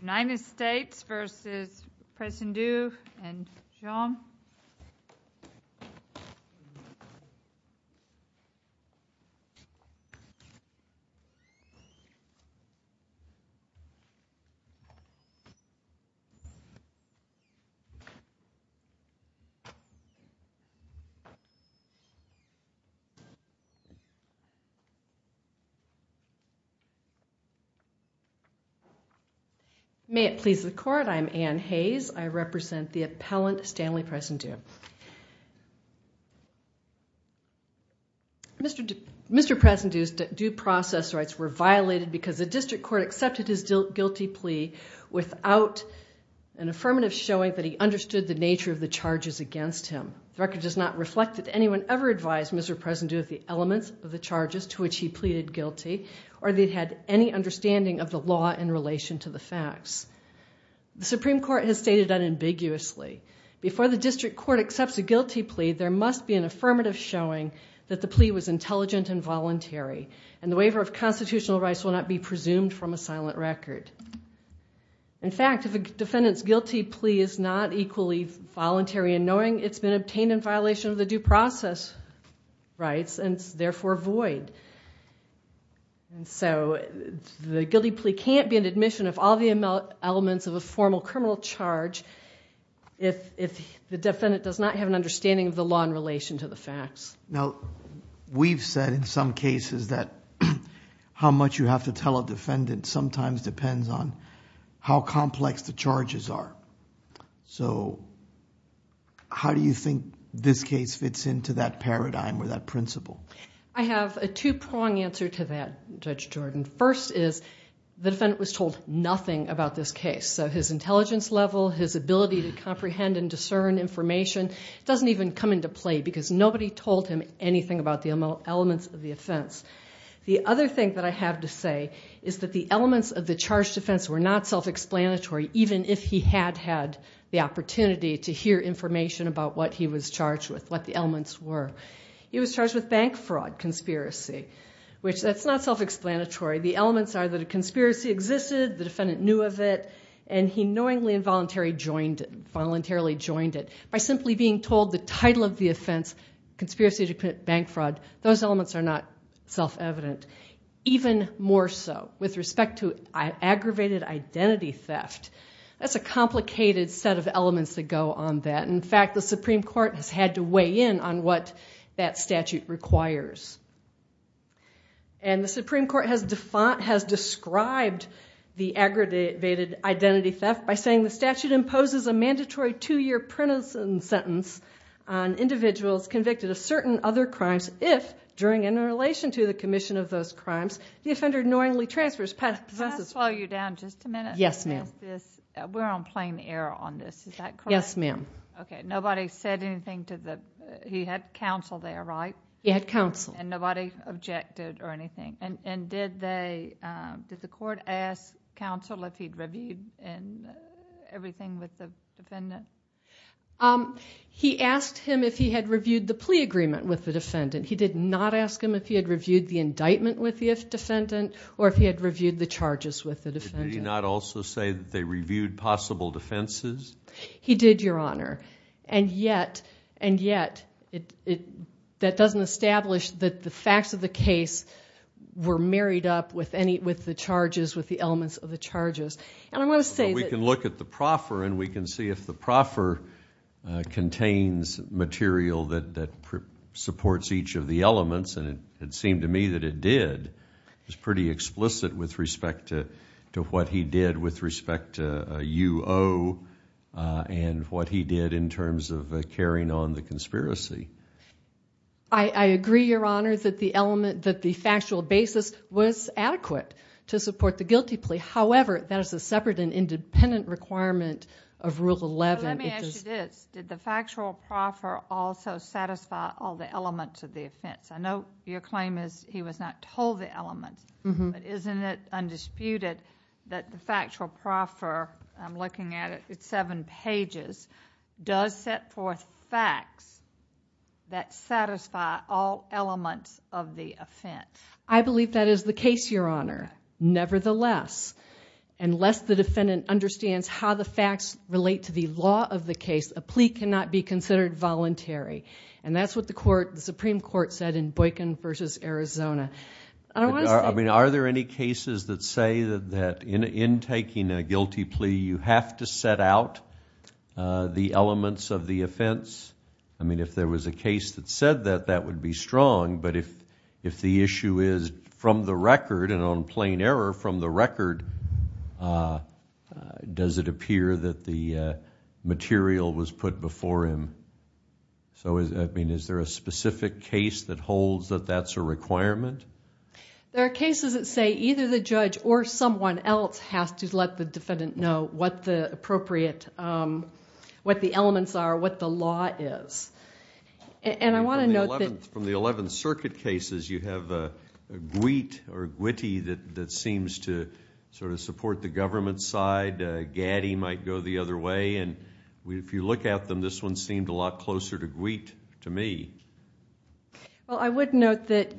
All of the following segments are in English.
United States v. Presendieu and John Presendieu. May it please the court, I am Anne Hayes. I represent the appellant Stanley Presendieu. Mr. Presendieu's due process rights were violated because the district court accepted his guilty plea without an affirmative showing that he understood the nature of the charges against him. The record does not reflect that anyone ever advised Mr. Presendieu of the elements of the charges to which he pleaded guilty or that he had any understanding of the law in relation to the facts. The Supreme Court has stated unambiguously. Before the district court accepts a guilty plea, there must be an affirmative showing that the plea was intelligent and voluntary and the waiver of constitutional rights will not be presumed from a silent record. In fact, if a defendant's guilty plea is not equally voluntary and knowing, it's been obtained in violation of the due process rights and is therefore void. The guilty plea can't be an admission of all the elements of a formal criminal charge if the defendant does not have an understanding of the law in relation to the facts. Now, we've said in some cases that how much you have to tell a defendant sometimes depends on how complex the charges are. How do you think this case fits into that paradigm or that principle? I have a two-pronged answer to that, Judge Jordan. First is the defendant was told nothing about this case, so his intelligence level, his ability to comprehend and discern information doesn't even come into play because nobody told him anything about the elements of the offense. The other thing that I have to say is that the elements of the charged offense were not self-explanatory even if he had had the opportunity to hear information about what he was charged with, what the elements were. He was charged with bank fraud conspiracy, which that's not self-explanatory. The elements are that a conspiracy existed, the defendant knew of it, and he knowingly and voluntarily joined it. By simply being told the title of the offense, conspiracy to commit bank fraud, those elements are not self-evident. Even more so with respect to aggravated identity theft. That's a complicated set of elements that go on that. In fact, the Supreme Court has had to weigh in on what that statute requires. The Supreme Court has described the aggravated identity theft by saying the statute imposes a mandatory two-year prison sentence on individuals convicted of certain other crimes if, during and in relation to the commission of those crimes, the offender knowingly transfers past possessions. Can I slow you down just a minute? Yes, ma'am. We're on plain air on this. Is that correct? Yes, ma'am. Okay. Nobody said anything to the... He had counsel there, right? He had counsel. And nobody objected or anything. Did the court ask counsel if he'd reviewed everything with the defendant? He asked him if he had reviewed the plea agreement with the defendant. He did not ask him if he had reviewed the indictment with the defendant or if he had reviewed the charges with the defendant. Did he not also say that they reviewed possible defenses? He did, Your Honor. And yet, that doesn't establish that the facts of the case were married up with the charges, with the elements of the charges. And I want to say that... We can look at the proffer and we can see if the proffer contains material that supports each of the elements, and it seemed to me that it did. It was pretty explicit with respect to what he did with respect to U.O. and what he did in terms of carrying on the conspiracy. I agree, Your Honor, that the factual basis was adequate to support the guilty plea. However, that is a separate and independent requirement of Rule 11. Let me ask you this. Did the factual proffer also satisfy all the elements of the offense? I know your claim is he was not told the elements, but isn't it undisputed that the factual proffer, I'm looking at it, it's seven pages, does set forth facts that satisfy all elements of the offense? I believe that is the case, Your Honor. Nevertheless, unless the defendant understands how the facts relate to the law of the case, a plea cannot be considered voluntary. And that's what the Supreme Court said in Boykin v. Arizona. Are there any cases that say that in taking a guilty plea, you have to set out the elements of the offense? I mean, if there was a case that said that, that would be strong, but if the issue is from the record and on plain error from the record, does it appear that the material was put before him? I mean, is there a specific case that holds that that's a requirement? There are cases that say either the judge or someone else has to let the defendant know what the appropriate, what the elements are, what the law is. And I want to note that... From the Eleventh Circuit cases, you have a gweet or a gwitty that seems to sort of go the other way. And if you look at them, this one seemed a lot closer to gweet to me. Well, I would note that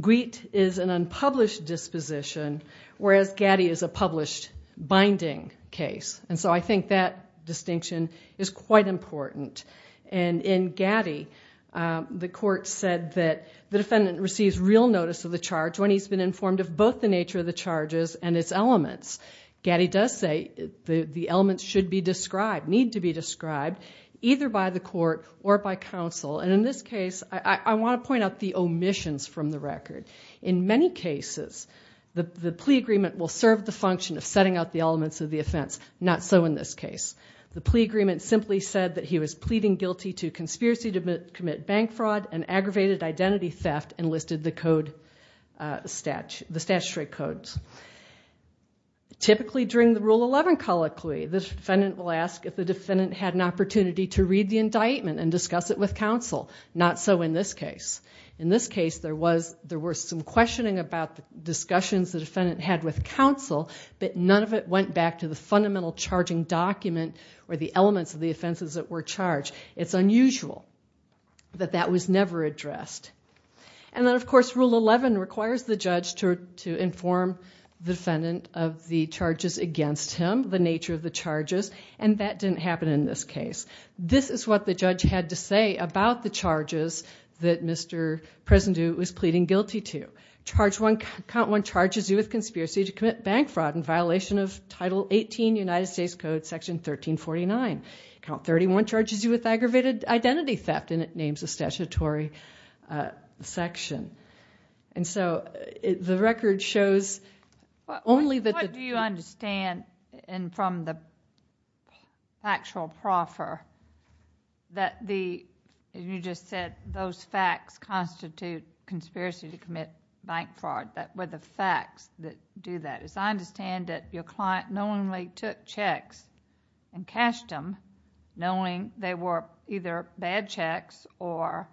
gweet is an unpublished disposition, whereas gatty is a published binding case. And so I think that distinction is quite important. And in gatty, the court said that the defendant receives real notice of the charge when he's been informed of both the nature of the charges and its elements. Gatty does say that the elements should be described, need to be described, either by the court or by counsel. And in this case, I want to point out the omissions from the record. In many cases, the plea agreement will serve the function of setting out the elements of the offense. Not so in this case. The plea agreement simply said that he was pleading guilty to conspiracy to commit bank fraud, the statutory codes. Typically during the Rule 11 colloquy, the defendant will ask if the defendant had an opportunity to read the indictment and discuss it with counsel. Not so in this case. In this case, there was some questioning about the discussions the defendant had with counsel, but none of it went back to the fundamental charging document or the elements of the offenses that were charged. It's unusual that that was never addressed. And then, of course, Rule 11 requires the judge to inform the defendant of the charges against him, the nature of the charges, and that didn't happen in this case. This is what the judge had to say about the charges that Mr. Prezendu was pleading guilty to. Count 1 charges you with conspiracy to commit bank fraud in violation of Title 18 United States Code Section 1349. Count 31 charges you with aggravated identity theft and it is in the statutory section. The record shows only that... What do you understand from the factual proffer that, as you just said, those facts constitute conspiracy to commit bank fraud? What are the facts that do that? I understand that your client knowingly took checks and cashed them, knowing they were either bad checks or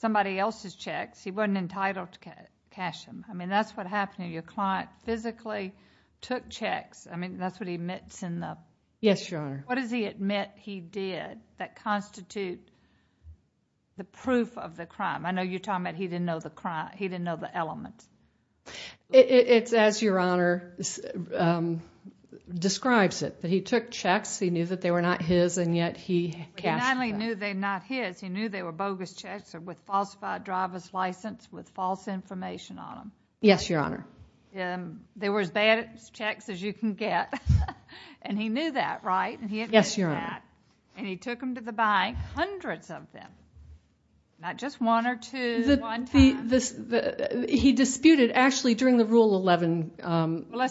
somebody else's checks, he wasn't entitled to cash them. I mean, that's what happened. Your client physically took checks. I mean, that's what he admits in the... Yes, Your Honor. What does he admit he did that constitute the proof of the crime? I know you're talking about he didn't know the crime, he didn't know the elements. It's as Your Honor describes it. He took checks, he knew that they were not his and yet he cashed them. He not only knew they were not his, he knew they were bogus checks with falsified driver's license with false information on them. Yes, Your Honor. They were as bad checks as you can get and he knew that, right? Yes, Your Honor. And he took them to the bank, hundreds of them, not just one or two at one time. He disputed, actually during the Rule 11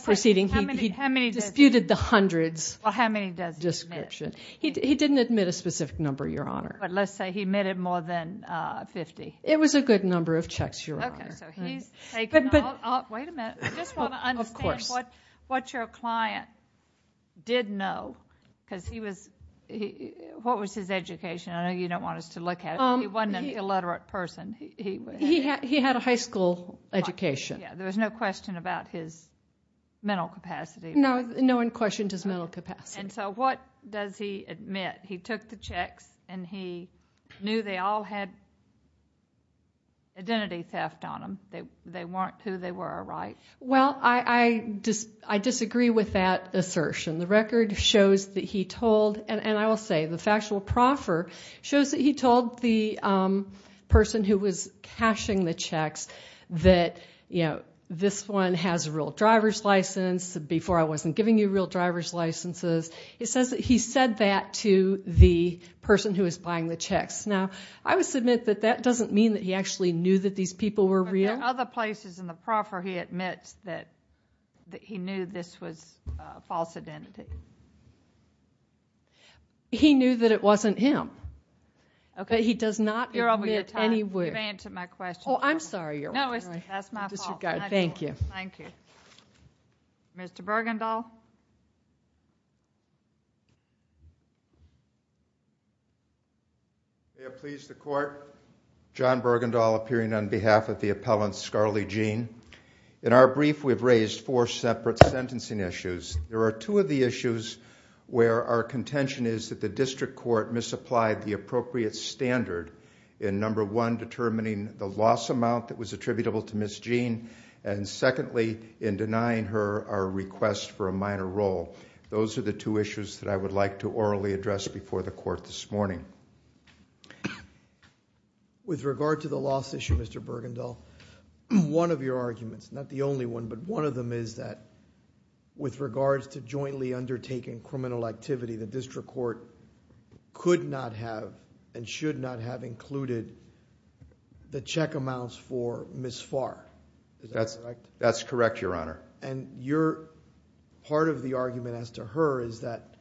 proceeding, he disputed the hundreds. Well, how many does he admit? He didn't admit a specific number, Your Honor. But let's say he admitted more than 50. It was a good number of checks, Your Honor. Wait a minute. I just want to understand what your client did know because he was... What was his education? I know you don't want us to look at it, but he wasn't an illiterate person. He had a high school education. There was no question about his mental capacity. No one questioned his mental capacity. And so what does he admit? He took the checks and he knew they all had identity theft on them. They weren't who they were, right? Well, I disagree with that assertion. The record shows that he told, and I will say the factual proffer shows that he told the person who was cashing the checks that, you know, this one has a real driver's license, before I wasn't giving you real driver's licenses. He said that to the person who was buying the checks. Now, I would submit that that doesn't mean that he actually knew that these people were real. But there are other places in the proffer he admits that he knew this was a false identity. He knew that it wasn't him. But he does not admit anywhere. You're over your time. You've answered my question. Oh, I'm sorry. No, that's my fault. Thank you. Thank you. Mr. Bergendahl. May it please the Court, John Bergendahl appearing on behalf of the appellant, Scarley Jean. In our brief, we've raised four separate sentencing issues. There are two of the issues where our contention is that the district court misapplied the appropriate standard in number one, determining the loss amount that was attributable to Ms. Jean, and secondly, in denying her our request for a minor role. Those are the two issues that I would like to orally address before the Court this morning. With regard to the loss issue, Mr. Bergendahl, one of your arguments, not the only one, but one of them is that with regards to jointly undertaking criminal activity, the district court could not have and should not have included the check amounts for Ms. Farr. Is that correct? That's correct, Your Honor. And part of the argument as to her is that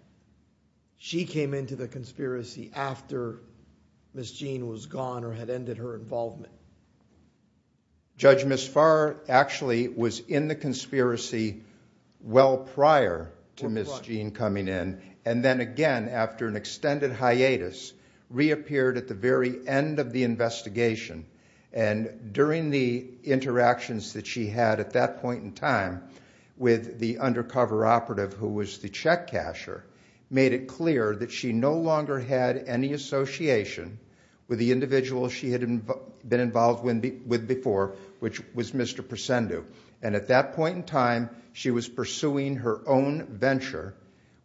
she came into the conspiracy after Ms. Jean was gone or had ended her involvement. Judge, Ms. Farr actually was in the conspiracy well prior to Ms. Jean coming in, and then again after an extended hiatus, reappeared at the very end of the investigation, and during the interactions that she had at that point in time with the undercover operative, who was the check casher, made it clear that she no longer had any association with the individual she had been involved with before, which was Mr. Persendu. And at that point in time, she was pursuing her own venture,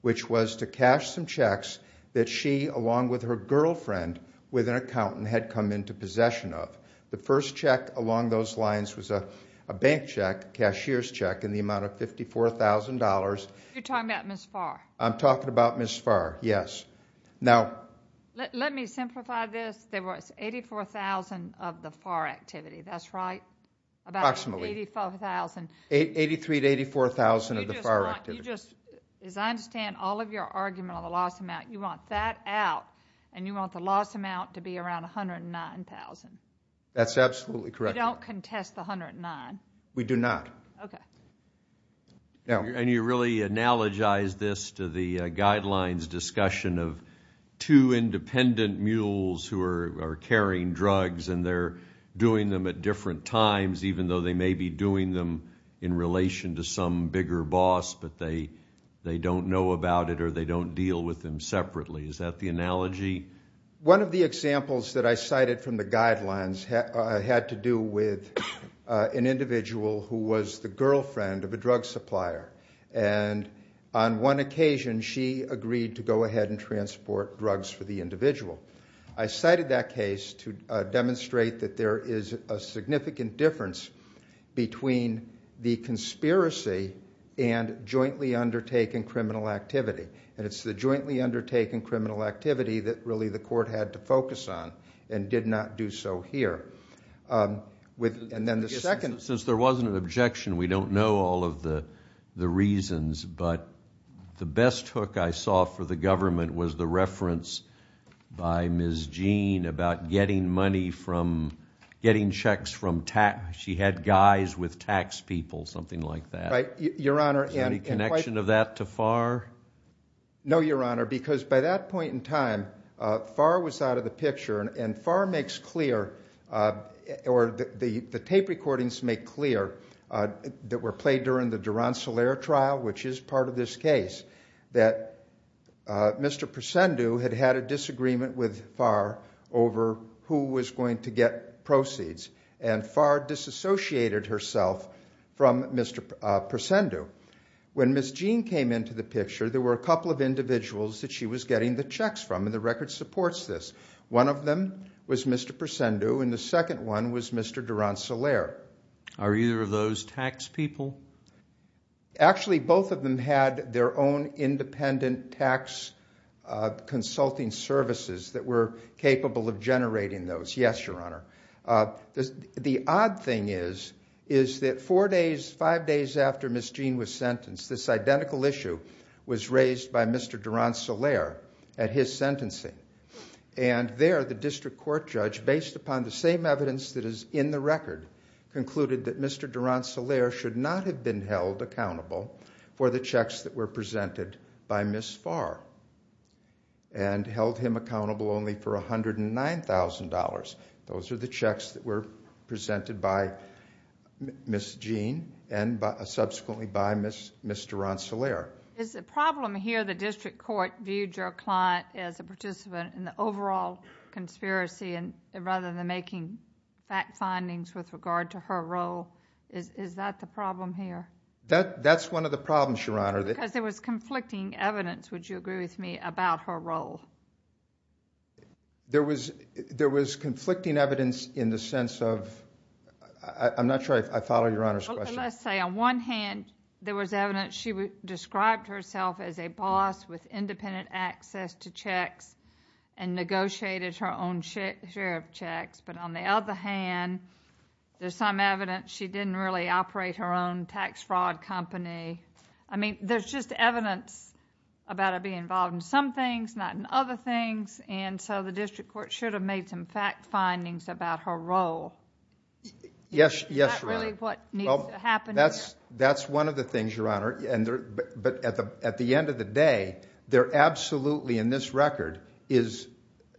which was to cash some checks that she, along with her girlfriend, with an accountant, had come into possession of. The first check along those lines was a bank check, a cashier's check, in the amount of $54,000. You're talking about Ms. Farr? I'm talking about Ms. Farr, yes. Let me simplify this. There was $84,000 of the Farr activity, that's right? About $84,000? $83,000 to $84,000 of the Farr activity. You just want, as I understand all of your argument on the loss amount, you want that out and you want the loss amount to be around $109,000? That's absolutely correct. You don't contest the $109,000? We do not. Okay. And you really analogize this to the guidelines discussion of two independent mules who are carrying drugs and they're doing them at different times, even though they may be doing them in relation to some bigger boss, but they don't know about it or they don't deal with them separately. Is that the analogy? One of the examples that I cited from the guidelines had to do with an individual who was the girlfriend of a drug supplier, and on one occasion she agreed to go ahead and transport drugs for the individual. I cited that case to demonstrate that there is a significant difference between the conspiracy and jointly undertaken criminal activity, and it's the jointly undertaken criminal activity that really the court had to focus on and did not do so here. Since there wasn't an objection, we don't know all of the reasons, but the best hook I saw for the government was the reference by Ms. Jean about getting checks from tax. She had guys with tax people, something like that. Is there any connection of that to Farr? No, Your Honor, because by that point in time Farr was out of the picture and Farr makes clear, or the tape recordings make clear, that were played during the Durant-Solaire trial, which is part of this case, that Mr. Persendu had had a disagreement with Farr over who was going to get proceeds, and Farr disassociated herself from Mr. Persendu. When Ms. Jean came into the picture, there were a couple of individuals that she was getting the checks from, and the record supports this. One of them was Mr. Persendu, and the second one was Mr. Durant-Solaire. Are either of those tax people? Actually, both of them had their own independent tax consulting services that were capable of generating those, yes, Your Honor. The odd thing is that four days, five days after Ms. Jean was sentenced, this identical issue was raised by Mr. Durant-Solaire at his sentencing, and there the district court judge, based upon the same evidence that is in the record, concluded that Mr. Durant-Solaire should not have been held accountable for the checks that were presented by Ms. Farr, and held him accountable only for $109,000. Those are the checks that were presented by Ms. Jean and subsequently by Mr. Durant-Solaire. Is the problem here the district court viewed your client as a participant in the overall conspiracy rather than making fact findings with regard to her role? Is that the problem here? That's one of the problems, Your Honor. Because there was conflicting evidence, would you agree with me, about her role? There was conflicting evidence in the sense of—I'm not sure I follow Your Honor's question. Let's say on one hand there was evidence she described herself as a boss with independent access to checks and negotiated her own share of checks, but on the other hand there's some evidence she didn't really operate her own tax fraud company. I mean, there's just evidence about her being involved in some things, not in other things, and so the district court should have made some fact findings about her role. Yes, Your Honor. Is that really what needs to happen here? That's one of the things, Your Honor, but at the end of the day, there absolutely in this record is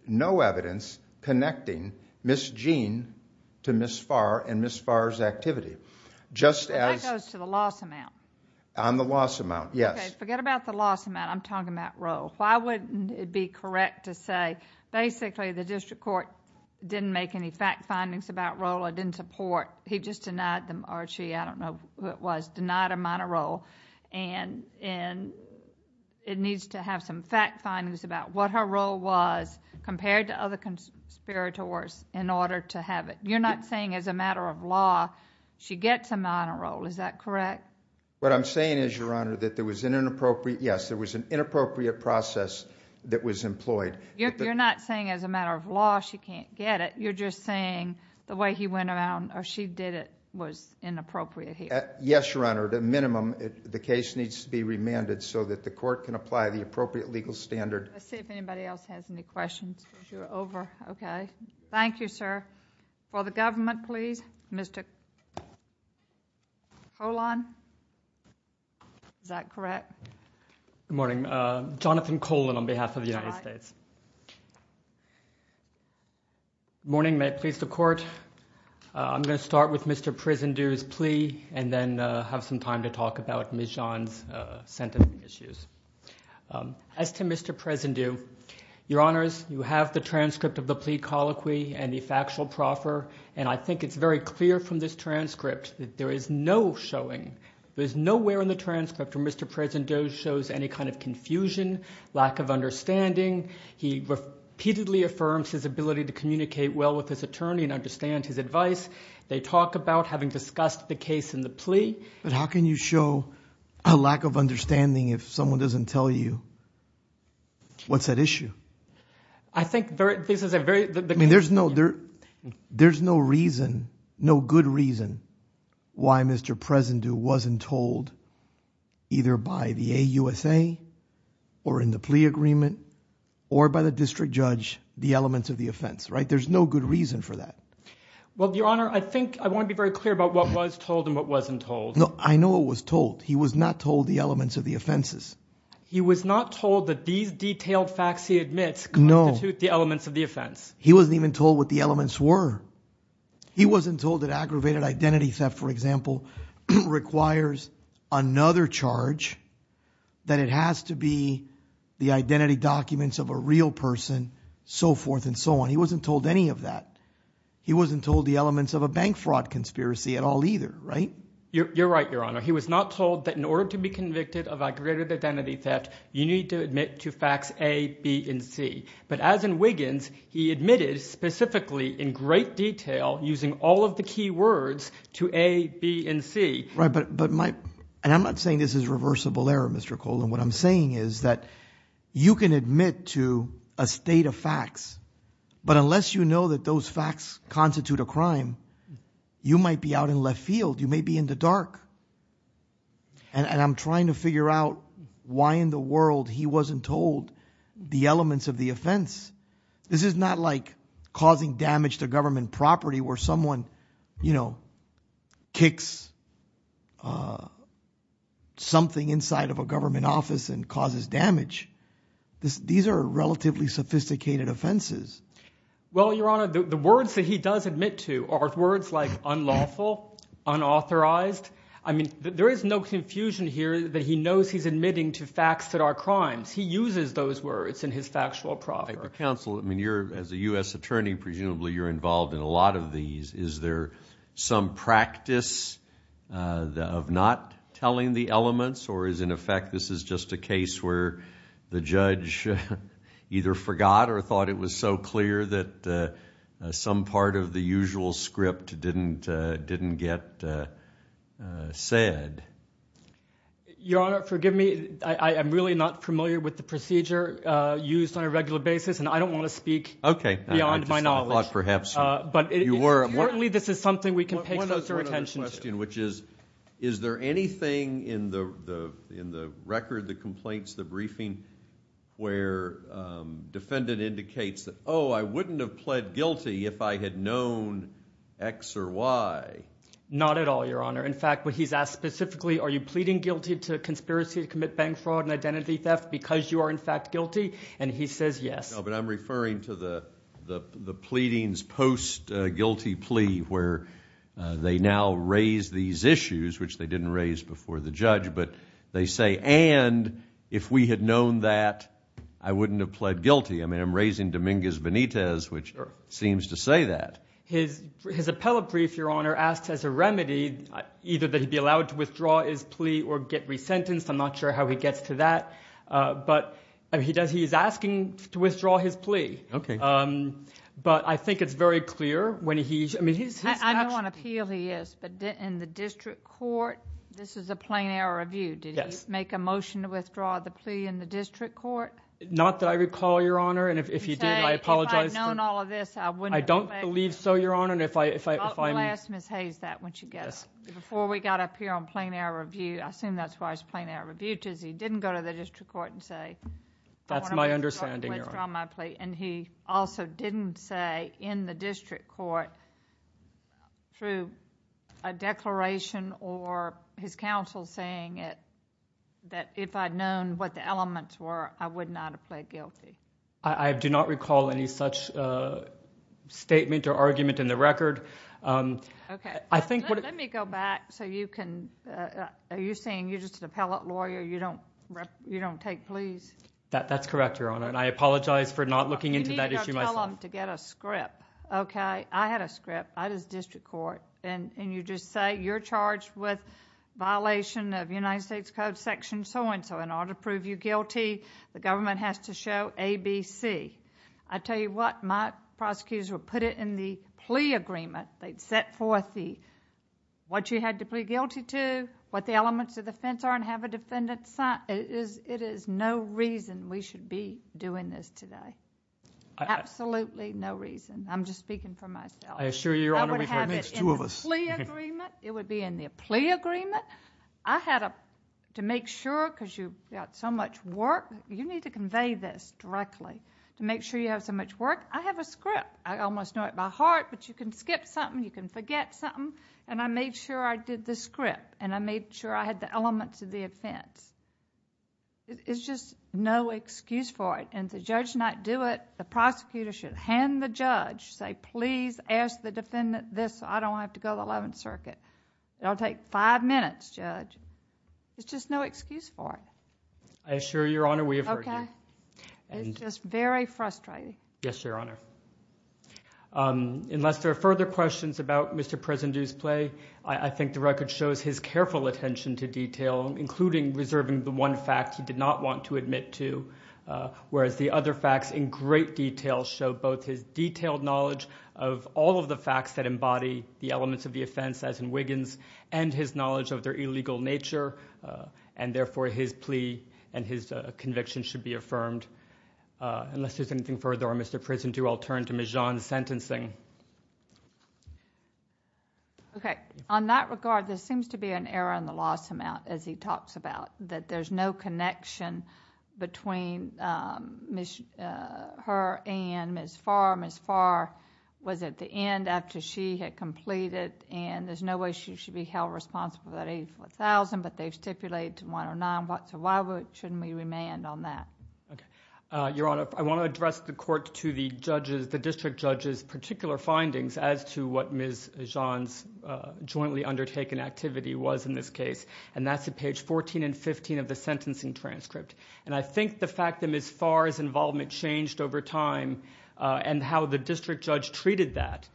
no evidence connecting Ms. Jean to Ms. Farr and Ms. Farr's activity. That goes to the loss amount. On the loss amount, yes. Okay, forget about the loss amount. I'm talking about role. Why wouldn't it be correct to say basically the district court didn't make any fact findings about role or didn't support, he just denied them, or she, I don't know who it was, denied her minor role, and it needs to have some fact findings about what her role was compared to other conspirators in order to have it. You're not saying as a matter of law she gets a minor role. Is that correct? What I'm saying is, Your Honor, that there was an inappropriate process that was employed. You're not saying as a matter of law she can't get it. You're just saying the way he went around or she did it was inappropriate here. Yes, Your Honor. At a minimum, the case needs to be remanded so that the court can apply the appropriate legal standard. Let's see if anybody else has any questions because you're over. Okay. Thank you, sir. For the government, please, Mr. Colon. Is that correct? Good morning. Jonathan Colon on behalf of the United States. Good morning. May it please the Court. I'm going to start with Mr. Prezendu's plea and then have some time to talk about Ms. John's sentencing issues. As to Mr. Prezendu, Your Honors, you have the transcript of the plea colloquy and the factual proffer, and I think it's very clear from this transcript that there is no showing. There's nowhere in the transcript where Mr. Prezendu shows any kind of confusion, lack of understanding. He repeatedly affirms his ability to communicate well with his attorney and understand his advice. They talk about having discussed the case in the plea. But how can you show a lack of understanding if someone doesn't tell you what's at issue? I think this is a very— I mean, there's no reason, no good reason why Mr. Prezendu wasn't told either by the AUSA or in the plea agreement or by the district judge the elements of the offense, right? There's no good reason for that. Well, Your Honor, I think I want to be very clear about what was told and what wasn't told. No, I know it was told. He was not told the elements of the offenses. He was not told that these detailed facts he admits constitute the elements of the offense. He wasn't even told what the elements were. He wasn't told that aggravated identity theft, for example, requires another charge, that it has to be the identity documents of a real person, so forth and so on. He wasn't told any of that. He wasn't told the elements of a bank fraud conspiracy at all either, right? You're right, Your Honor. He was not told that in order to be convicted of aggravated identity theft, you need to admit to facts A, B, and C. But as in Wiggins, he admitted specifically in great detail using all of the key words to A, B, and C. Right, but my—and I'm not saying this is reversible error, Mr. Cole. And what I'm saying is that you can admit to a state of facts, but unless you know that those facts constitute a crime, you might be out in left field. You may be in the dark. And I'm trying to figure out why in the world he wasn't told the elements of the offense. This is not like causing damage to government property where someone, you know, kicks something inside of a government office and causes damage. These are relatively sophisticated offenses. Well, Your Honor, the words that he does admit to are words like unlawful, unauthorized. I mean there is no confusion here that he knows he's admitting to facts that are crimes. He uses those words in his factual proffer. Counsel, I mean you're—as a U.S. attorney, presumably you're involved in a lot of these. Is there some practice of not telling the elements, or is in effect this is just a case where the judge either forgot or thought it was so clear that some part of the usual script didn't get said? Your Honor, forgive me, I'm really not familiar with the procedure used on a regular basis, and I don't want to speak beyond my knowledge. Okay, I just thought perhaps you were. Importantly, this is something we can pay closer attention to. One other question, which is, is there anything in the record, the complaints, the briefing, where defendant indicates that, oh, I wouldn't have pled guilty if I had known X or Y? Not at all, Your Honor. In fact, what he's asked specifically, are you pleading guilty to conspiracy to commit bank fraud and identity theft because you are in fact guilty? And he says yes. No, but I'm referring to the pleadings post-guilty plea, where they now raise these issues, which they didn't raise before the judge, but they say, and if we had known that, I wouldn't have pled guilty. I mean I'm raising Dominguez-Benitez, which seems to say that. His appellate brief, Your Honor, asks as a remedy either that he be allowed to withdraw his plea or get resentenced. I'm not sure how he gets to that, but he is asking to withdraw his plea. Okay. But I think it's very clear when he's, I mean he's actually. I know on appeal he is, but in the district court, this is a plain error of view. Yes. Did he make a motion to withdraw the plea in the district court? Not that I recall, Your Honor, and if he did, I apologize. If I had known all of this, I wouldn't have pled guilty. I don't believe so, Your Honor. We'll ask Ms. Hayes that when she gets up. Before we got up here on plain error of view, I assume that's why it's plain error of view, because he didn't go to the district court and say, I want to withdraw my plea. That's my understanding, Your Honor. And he also didn't say in the district court, through a declaration or his counsel saying it, that if I had known what the elements were, I would not have pled guilty. I do not recall any such statement or argument in the record. Okay. I think... Let me go back so you can... are you saying you're just an appellate lawyer? You don't take pleas? That's correct, Your Honor, and I apologize for not looking into that issue myself. You need to tell them to get a script, okay? I had a script. I was district court, and you just say you're charged with violation of United States Code section so and so. In order to prove you guilty, the government has to show A, B, C. I tell you what, my prosecutors would put it in the plea agreement. They'd set forth what you had to plead guilty to, what the elements of the offense are, and have a defendant sign. It is no reason we should be doing this today. Absolutely no reason. I'm just speaking for myself. I assure you, Your Honor, we've heard this. I would have it in the plea agreement. It would be in the plea agreement. I had a... to make sure, because you've got so much work, you need to convey this directly. To make sure you have so much work, I have a script. I almost know it by heart, but you can skip something, you can forget something. I made sure I did the script, and I made sure I had the elements of the offense. It's just no excuse for it. The judge might do it. The prosecutor should hand the judge, say, Please ask the defendant this, so I don't have to go to the Eleventh Circuit. It'll take five minutes, Judge. It's just no excuse for it. I assure you, Your Honor, we have heard this. Okay. It's just very frustrating. Yes, Your Honor. Unless there are further questions about Mr. Presidentew's plea, I think the record shows his careful attention to detail, including reserving the one fact he did not want to admit to, whereas the other facts in great detail show both his detailed knowledge of all of the facts that embody the elements of the offense, as in Wiggins, and his knowledge of their illegal nature, and therefore his plea and his conviction should be affirmed. Unless there's anything further on Mr. Presidentew, I'll turn to Ms. John's sentencing. Okay. On that regard, there seems to be an error in the loss amount, as he talks about, that there's no connection between her and Ms. Farr. Ms. Farr was at the end after she had completed, and there's no way she should be held responsible for that $84,000, but they've stipulated $109,000, so why shouldn't we remand on that? Okay. Your Honor, I want to address the court to the district judge's particular findings as to what Ms. John's jointly undertaken activity was in this case, and that's at page 14 and 15 of the sentencing transcript. And I think the fact that Ms. Farr's involvement changed over time and how the district judge treated that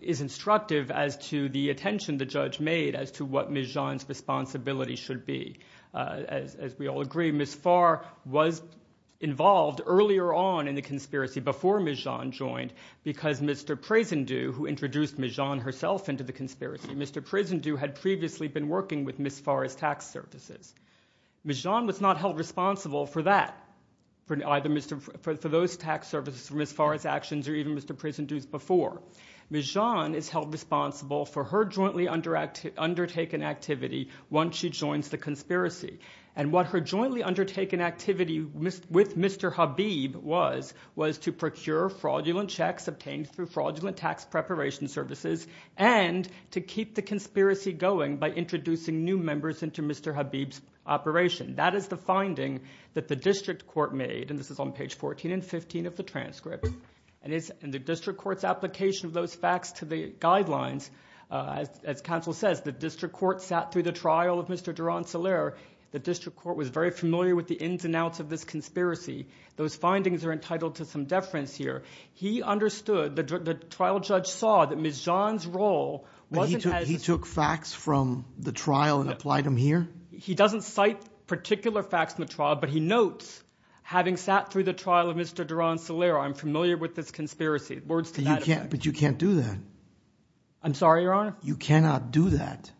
is instructive as to the attention the judge made as to what Ms. John's responsibility should be. As we all agree, Ms. Farr was involved earlier on in the conspiracy before Ms. John joined because Mr. Presidentew, who introduced Ms. John herself into the conspiracy, Mr. Presidentew had previously been working with Ms. Farr's tax services. Ms. John was not held responsible for that, for those tax services, for Ms. Farr's actions, or even Mr. Presidentew's before. Ms. John is held responsible for her jointly undertaken activity once she joins the conspiracy, and what her jointly undertaken activity with Mr. Habib was was to procure fraudulent checks obtained through fraudulent tax preparation services and to keep the conspiracy going by introducing new members into Mr. Habib's operation. That is the finding that the district court made, and this is on page 14 and 15 of the transcript, and it's in the district court's application of those facts to the guidelines. As counsel says, the district court sat through the trial of Mr. Duran-Soler. The district court was very familiar with the ins and outs of this conspiracy. Those findings are entitled to some deference here. He understood, the trial judge saw that Ms. John's role wasn't as— He took facts from the trial and applied them here? He doesn't cite particular facts from the trial, but he notes, having sat through the trial of Mr. Duran-Soler, I'm familiar with this conspiracy. Words to that effect. But you can't do that. I'm sorry, Your Honor? You cannot do that.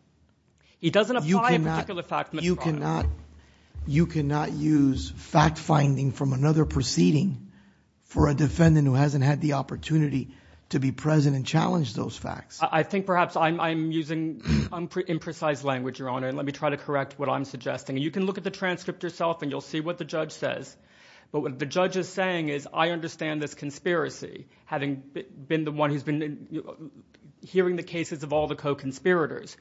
He doesn't apply a particular fact to Ms. Duran-Soler. You cannot use fact-finding from another proceeding for a defendant who hasn't had the opportunity to be present and challenge those facts. I think perhaps I'm using imprecise language, Your Honor, and let me try to correct what I'm suggesting. You can look at the transcript yourself, and you'll see what the judge says. But what the judge is saying is, I understand this conspiracy, having been the one who's been hearing the cases of all the co-conspirators.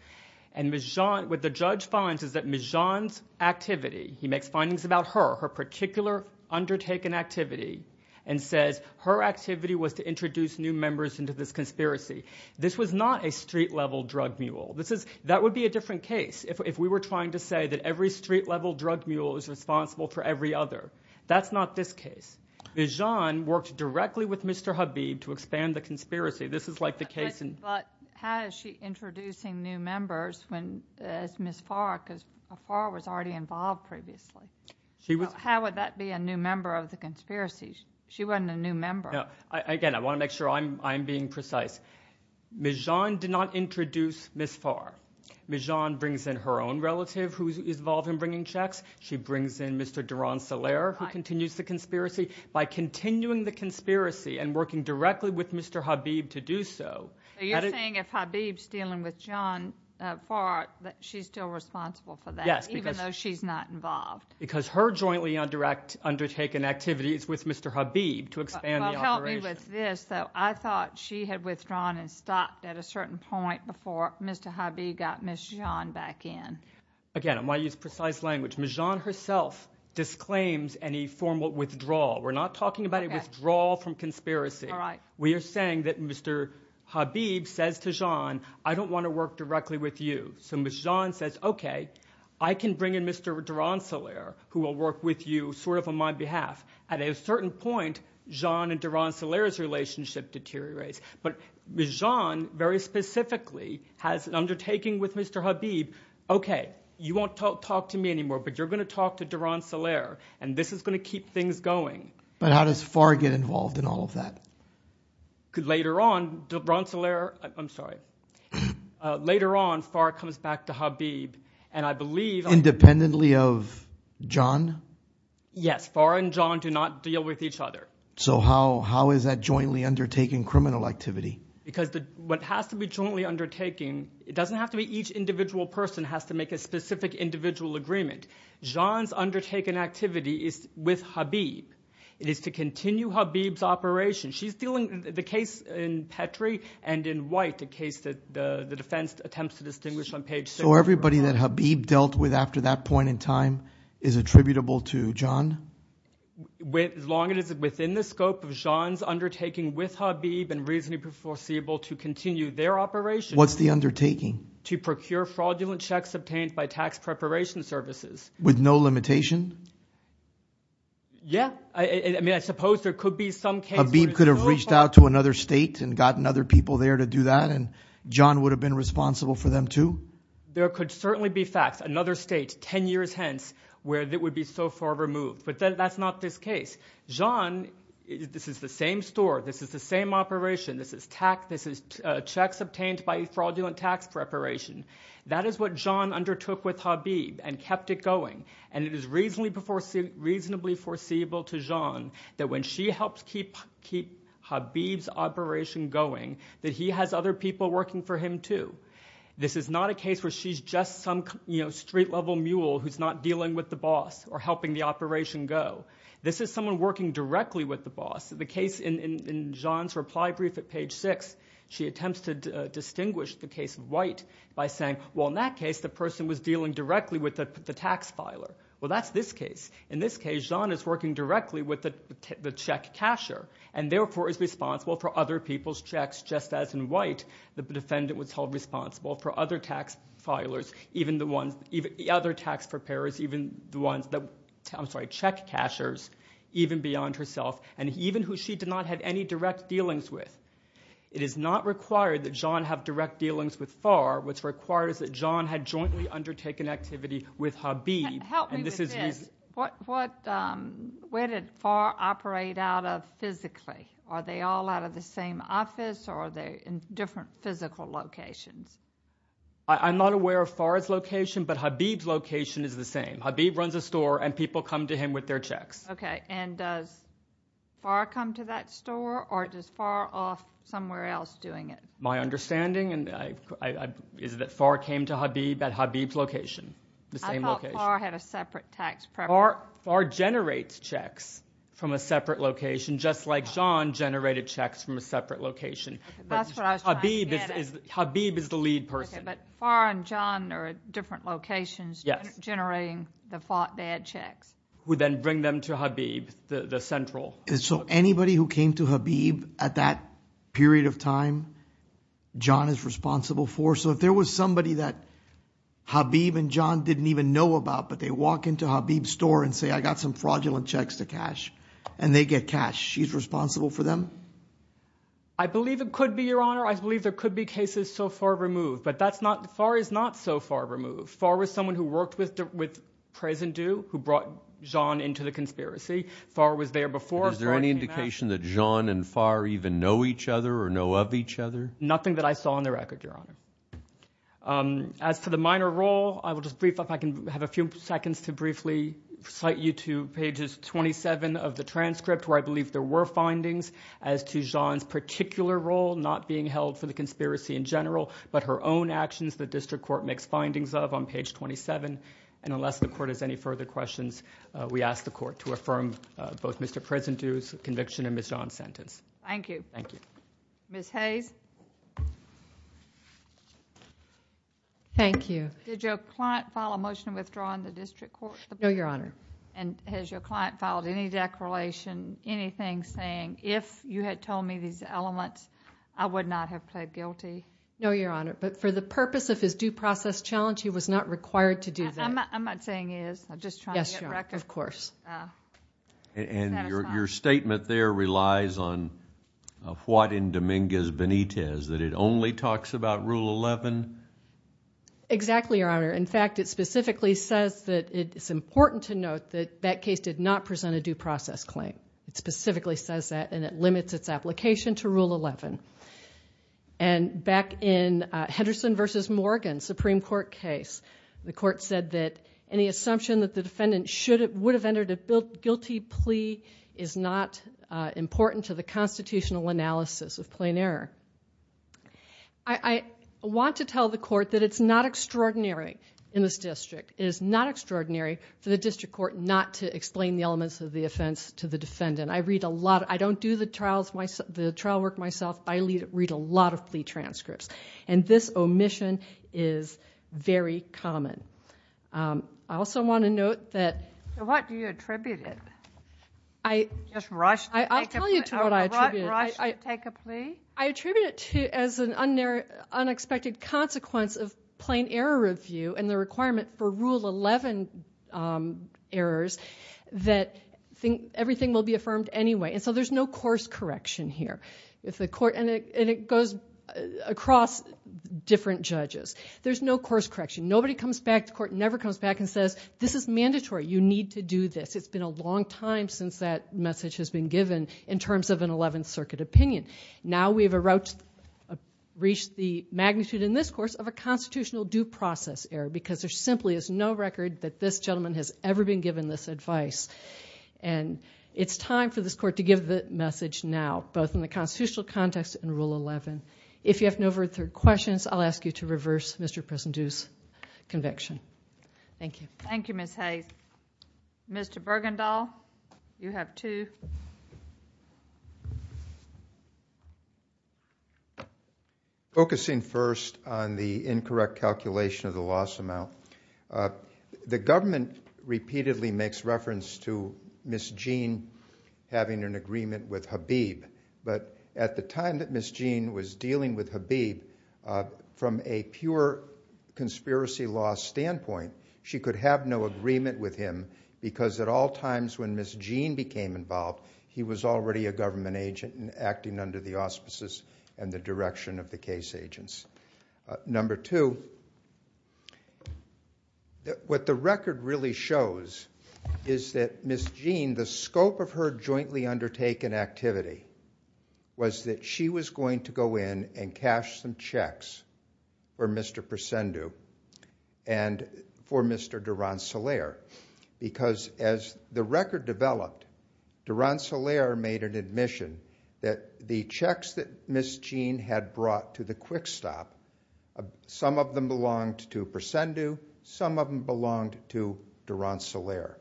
And what the judge finds is that Ms. Jeanne's activity— he makes findings about her, her particular undertaken activity, and says her activity was to introduce new members into this conspiracy. This was not a street-level drug mule. That would be a different case if we were trying to say that every street-level drug mule is responsible for every other. That's not this case. Ms. Jeanne worked directly with Mr. Habib to expand the conspiracy. This is like the case in— But how is she introducing new members as Ms. Farr? Because Farr was already involved previously. How would that be a new member of the conspiracy? She wasn't a new member. Again, I want to make sure I'm being precise. Ms. Jeanne did not introduce Ms. Farr. Ms. Jeanne brings in her own relative who is involved in bringing checks. She brings in Mr. Duran-Soler who continues the conspiracy. By continuing the conspiracy and working directly with Mr. Habib to do so— So you're saying if Habib's dealing with Farr, she's still responsible for that, even though she's not involved? Because her jointly undertaken activity is with Mr. Habib to expand the operation. Help me with this, though. I thought she had withdrawn and stopped at a certain point before Mr. Habib got Ms. Jeanne back in. Again, I want to use precise language. Ms. Jeanne herself disclaims any formal withdrawal. We're not talking about a withdrawal from conspiracy. We are saying that Mr. Habib says to Jeanne, I don't want to work directly with you. So Ms. Jeanne says, OK, I can bring in Mr. Duran-Soler who will work with you sort of on my behalf. At a certain point, Jeanne and Duran-Soler's relationship deteriorates. But Ms. Jeanne very specifically has an undertaking with Mr. Habib, OK, you won't talk to me anymore, but you're going to talk to Duran-Soler, and this is going to keep things going. But how does Farr get involved in all of that? Later on, Duran-Soler, I'm sorry. Later on, Farr comes back to Habib, and I believe Independently of Jeanne? Yes, Farr and Jeanne do not deal with each other. So how is that jointly undertaking criminal activity? Because what has to be jointly undertaking, it doesn't have to be each individual person has to make a specific individual agreement. Jeanne's undertaken activity is with Habib. It is to continue Habib's operation. She's dealing with the case in Petrie and in White, a case that the defense attempts to distinguish on page 6. So everybody that Habib dealt with after that point in time is attributable to Jeanne? As long as it's within the scope of Jeanne's undertaking with Habib and reasonably foreseeable to continue their operation. What's the undertaking? To procure fraudulent checks obtained by tax preparation services. With no limitation? Yeah. I mean, I suppose there could be some case... Habib could have reached out to another state and gotten other people there to do that, and Jeanne would have been responsible for them too? There could certainly be facts. Another state, 10 years hence, where it would be so far removed. But that's not this case. Jeanne, this is the same store. This is the same operation. This is checks obtained by fraudulent tax preparation. That is what Jeanne undertook with Habib and kept it going. And it is reasonably foreseeable to Jeanne that when she helps keep Habib's operation going, that he has other people working for him too. This is not a case where she's just some street-level mule who's not dealing with the boss or helping the operation go. This is someone working directly with the boss. The case in Jeanne's reply brief at page 6, she attempts to distinguish the case of White by saying, well, in that case, the person was dealing directly with the tax filer. Well, that's this case. In this case, Jeanne is working directly with the check casher and therefore is responsible for other people's checks, just as in White the defendant was held responsible for other tax filers, even the ones... other tax preparers, even the ones... I'm sorry, check cashers, even beyond herself. And even who she did not have any direct dealings with. It is not required that Jeanne have direct dealings with Farr. What's required is that Jeanne had jointly undertaken activity with Habib. Help me with this. Where did Farr operate out of physically? Are they all out of the same office or are they in different physical locations? I'm not aware of Farr's location, but Habib's location is the same. Habib runs a store and people come to him with their checks. Okay, and does Farr come to that store or is Farr off somewhere else doing it? My understanding is that Farr came to Habib at Habib's location, the same location. I thought Farr had a separate tax preparer. Farr generates checks from a separate location, just like Jeanne generated checks from a separate location. That's what I was trying to get at. Habib is the lead person. Okay, but Farr and Jeanne are at different locations... Yes. ...generating the bad checks. Who then bring them to Habib, the central. So anybody who came to Habib at that period of time, Jeanne is responsible for? So if there was somebody that Habib and Jeanne didn't even know about but they walk into Habib's store and say, I got some fraudulent checks to cash, and they get cash, she's responsible for them? I believe it could be, Your Honor. I believe there could be cases so far removed, but Farr is not so far removed. Farr was someone who worked with Prez and Dew, who brought Jeanne into the conspiracy. Farr was there before Farr came out. Is there any indication that Jeanne and Farr even know each other or know of each other? Nothing that I saw on the record, Your Honor. As to the minor role, I will just brief up. I can have a few seconds to briefly cite you to pages 27 of the transcript, where I believe there were findings as to Jeanne's particular role not being held for the conspiracy in general, but her own actions the district court makes findings of on page 27. Unless the court has any further questions, we ask the court to affirm both Mr. Prez and Dew's conviction and Ms. Jeanne's sentence. Thank you. Thank you. Ms. Hayes? Thank you. Did your client file a motion withdrawing the district court? No, Your Honor. Has your client filed any declaration, anything saying, if you had told me these elements, I would not have pled guilty? No, Your Honor. But for the purpose of his due process challenge, he was not required to do that. I'm not saying he is. I'm just trying to get record. Yes, Your Honor. Of course. And your statement there relies on what in Dominguez Benitez, that it only talks about Rule 11? Exactly, Your Honor. In fact, it specifically says that it's important to note that that case did not present a due process claim. It specifically says that, and it limits its application to Rule 11. And back in Henderson v. Morgan Supreme Court case, the court said that any assumption that the defendant would have entered a guilty plea is not important to the constitutional analysis of plain error. I want to tell the court that it's not extraordinary in this district. It is not extraordinary for the district court not to explain the elements of the offense to the defendant. I read a lot. I don't do the trial work myself. I read a lot of plea transcripts. And this omission is very common. I also want to note that. What do you attribute it? Just rush to take a plea? I'll tell you what I attribute it. Rush to take a plea? I attribute it as an unexpected consequence of plain error review and the requirement for Rule 11 errors that everything will be confirmed anyway. And so there's no course correction here. And it goes across different judges. There's no course correction. Nobody comes back to court, never comes back and says, this is mandatory. You need to do this. It's been a long time since that message has been given in terms of an Eleventh Circuit opinion. Now we've reached the magnitude in this course of a constitutional due process error because there simply is no record that this gentleman has ever been given this advice. And it's time for this court to give the message now, both in the constitutional context and Rule 11. If you have no further questions, I'll ask you to reverse Mr. Presidio's conviction. Thank you. Thank you, Ms. Hayes. Mr. Bergendahl, you have two. Focusing first on the incorrect calculation of the loss amount, the government repeatedly makes reference to Ms. Jean having an agreement with Habib. But at the time that Ms. Jean was dealing with Habib, from a pure conspiracy law standpoint, she could have no agreement with him because at all times when Ms. Jean became involved, he was already a government agent and acting under the auspices and the direction of the case agents. Number two, what the record really shows is that Ms. Jean, the scope of her jointly undertaken activity was that she was going to go in and cash some checks for Mr. Presidio and for Mr. Durant-Solaire, because as the record developed, Durant-Solaire made an admission that the checks that Ms. Jean had brought to the quick stop, some of them belonged to Presidio, some of them belonged to Durant-Solaire.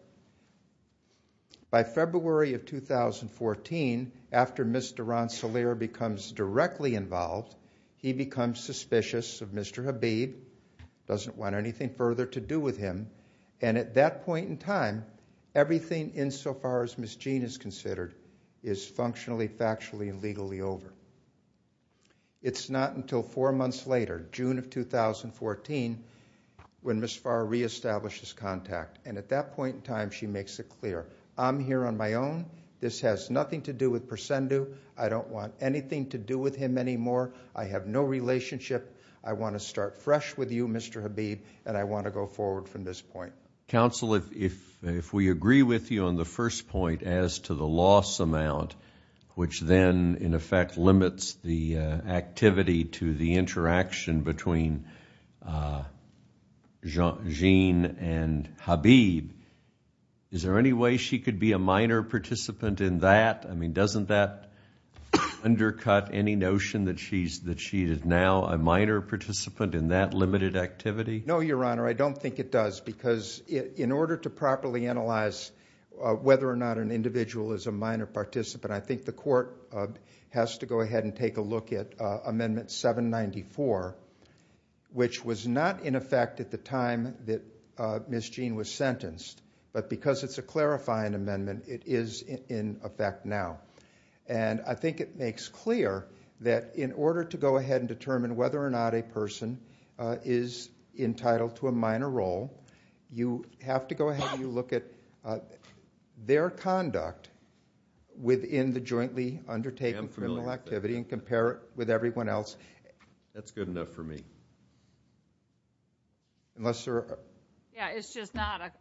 By February of 2014, after Mr. Durant-Solaire becomes directly involved, he becomes suspicious of Mr. Habib, doesn't want anything further to do with him. And at that point in time, everything insofar as Ms. Jean is considered is functionally, factually and legally over. It's not until four months later, June of 2014, when Ms. Farr reestablishes contact. And at that point in time, she makes it clear. I'm here on my own. This has nothing to do with Presidio. I don't want anything to do with him anymore. I have no relationship. I want to start fresh with you, Mr. Habib, and I want to go forward from this point. Counsel, if we agree with you on the first point as to the loss amount, which then in effect limits the activity to the interaction between Jean and Habib, is there any way she could be a minor participant in that? I mean, doesn't that undercut any notion that she is now a minor participant in that limited activity? No, Your Honor, I don't think it does. Because in order to properly analyze whether or not an individual is a minor participant, I think the court has to go ahead and take a look at Amendment 794, which was not in effect at the time that Ms. Jean was sentenced. But because it's a clarifying amendment, it is in effect now. And I think it makes clear that in order to go ahead and determine whether or not a person is entitled to a minor role, you have to go ahead and look at their conduct within the jointly undertaken criminal activity and compare it with everyone else. That's good enough for me. Unless there are... Yeah, it's just not...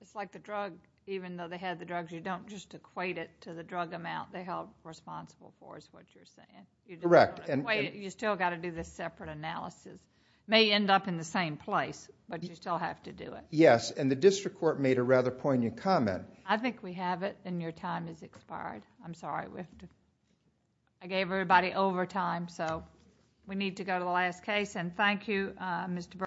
It's like the drug, even though they had the drugs, you don't just equate it to the drug amount they held responsible for, is what you're saying. Correct. You still got to do this separate analysis. It may end up in the same place, but you still have to do it. Yes, and the district court made a rather poignant comment. I think we have it, and your time has expired. I'm sorry. I gave everybody overtime, so we need to go to the last case. And thank you, Mr. Berger.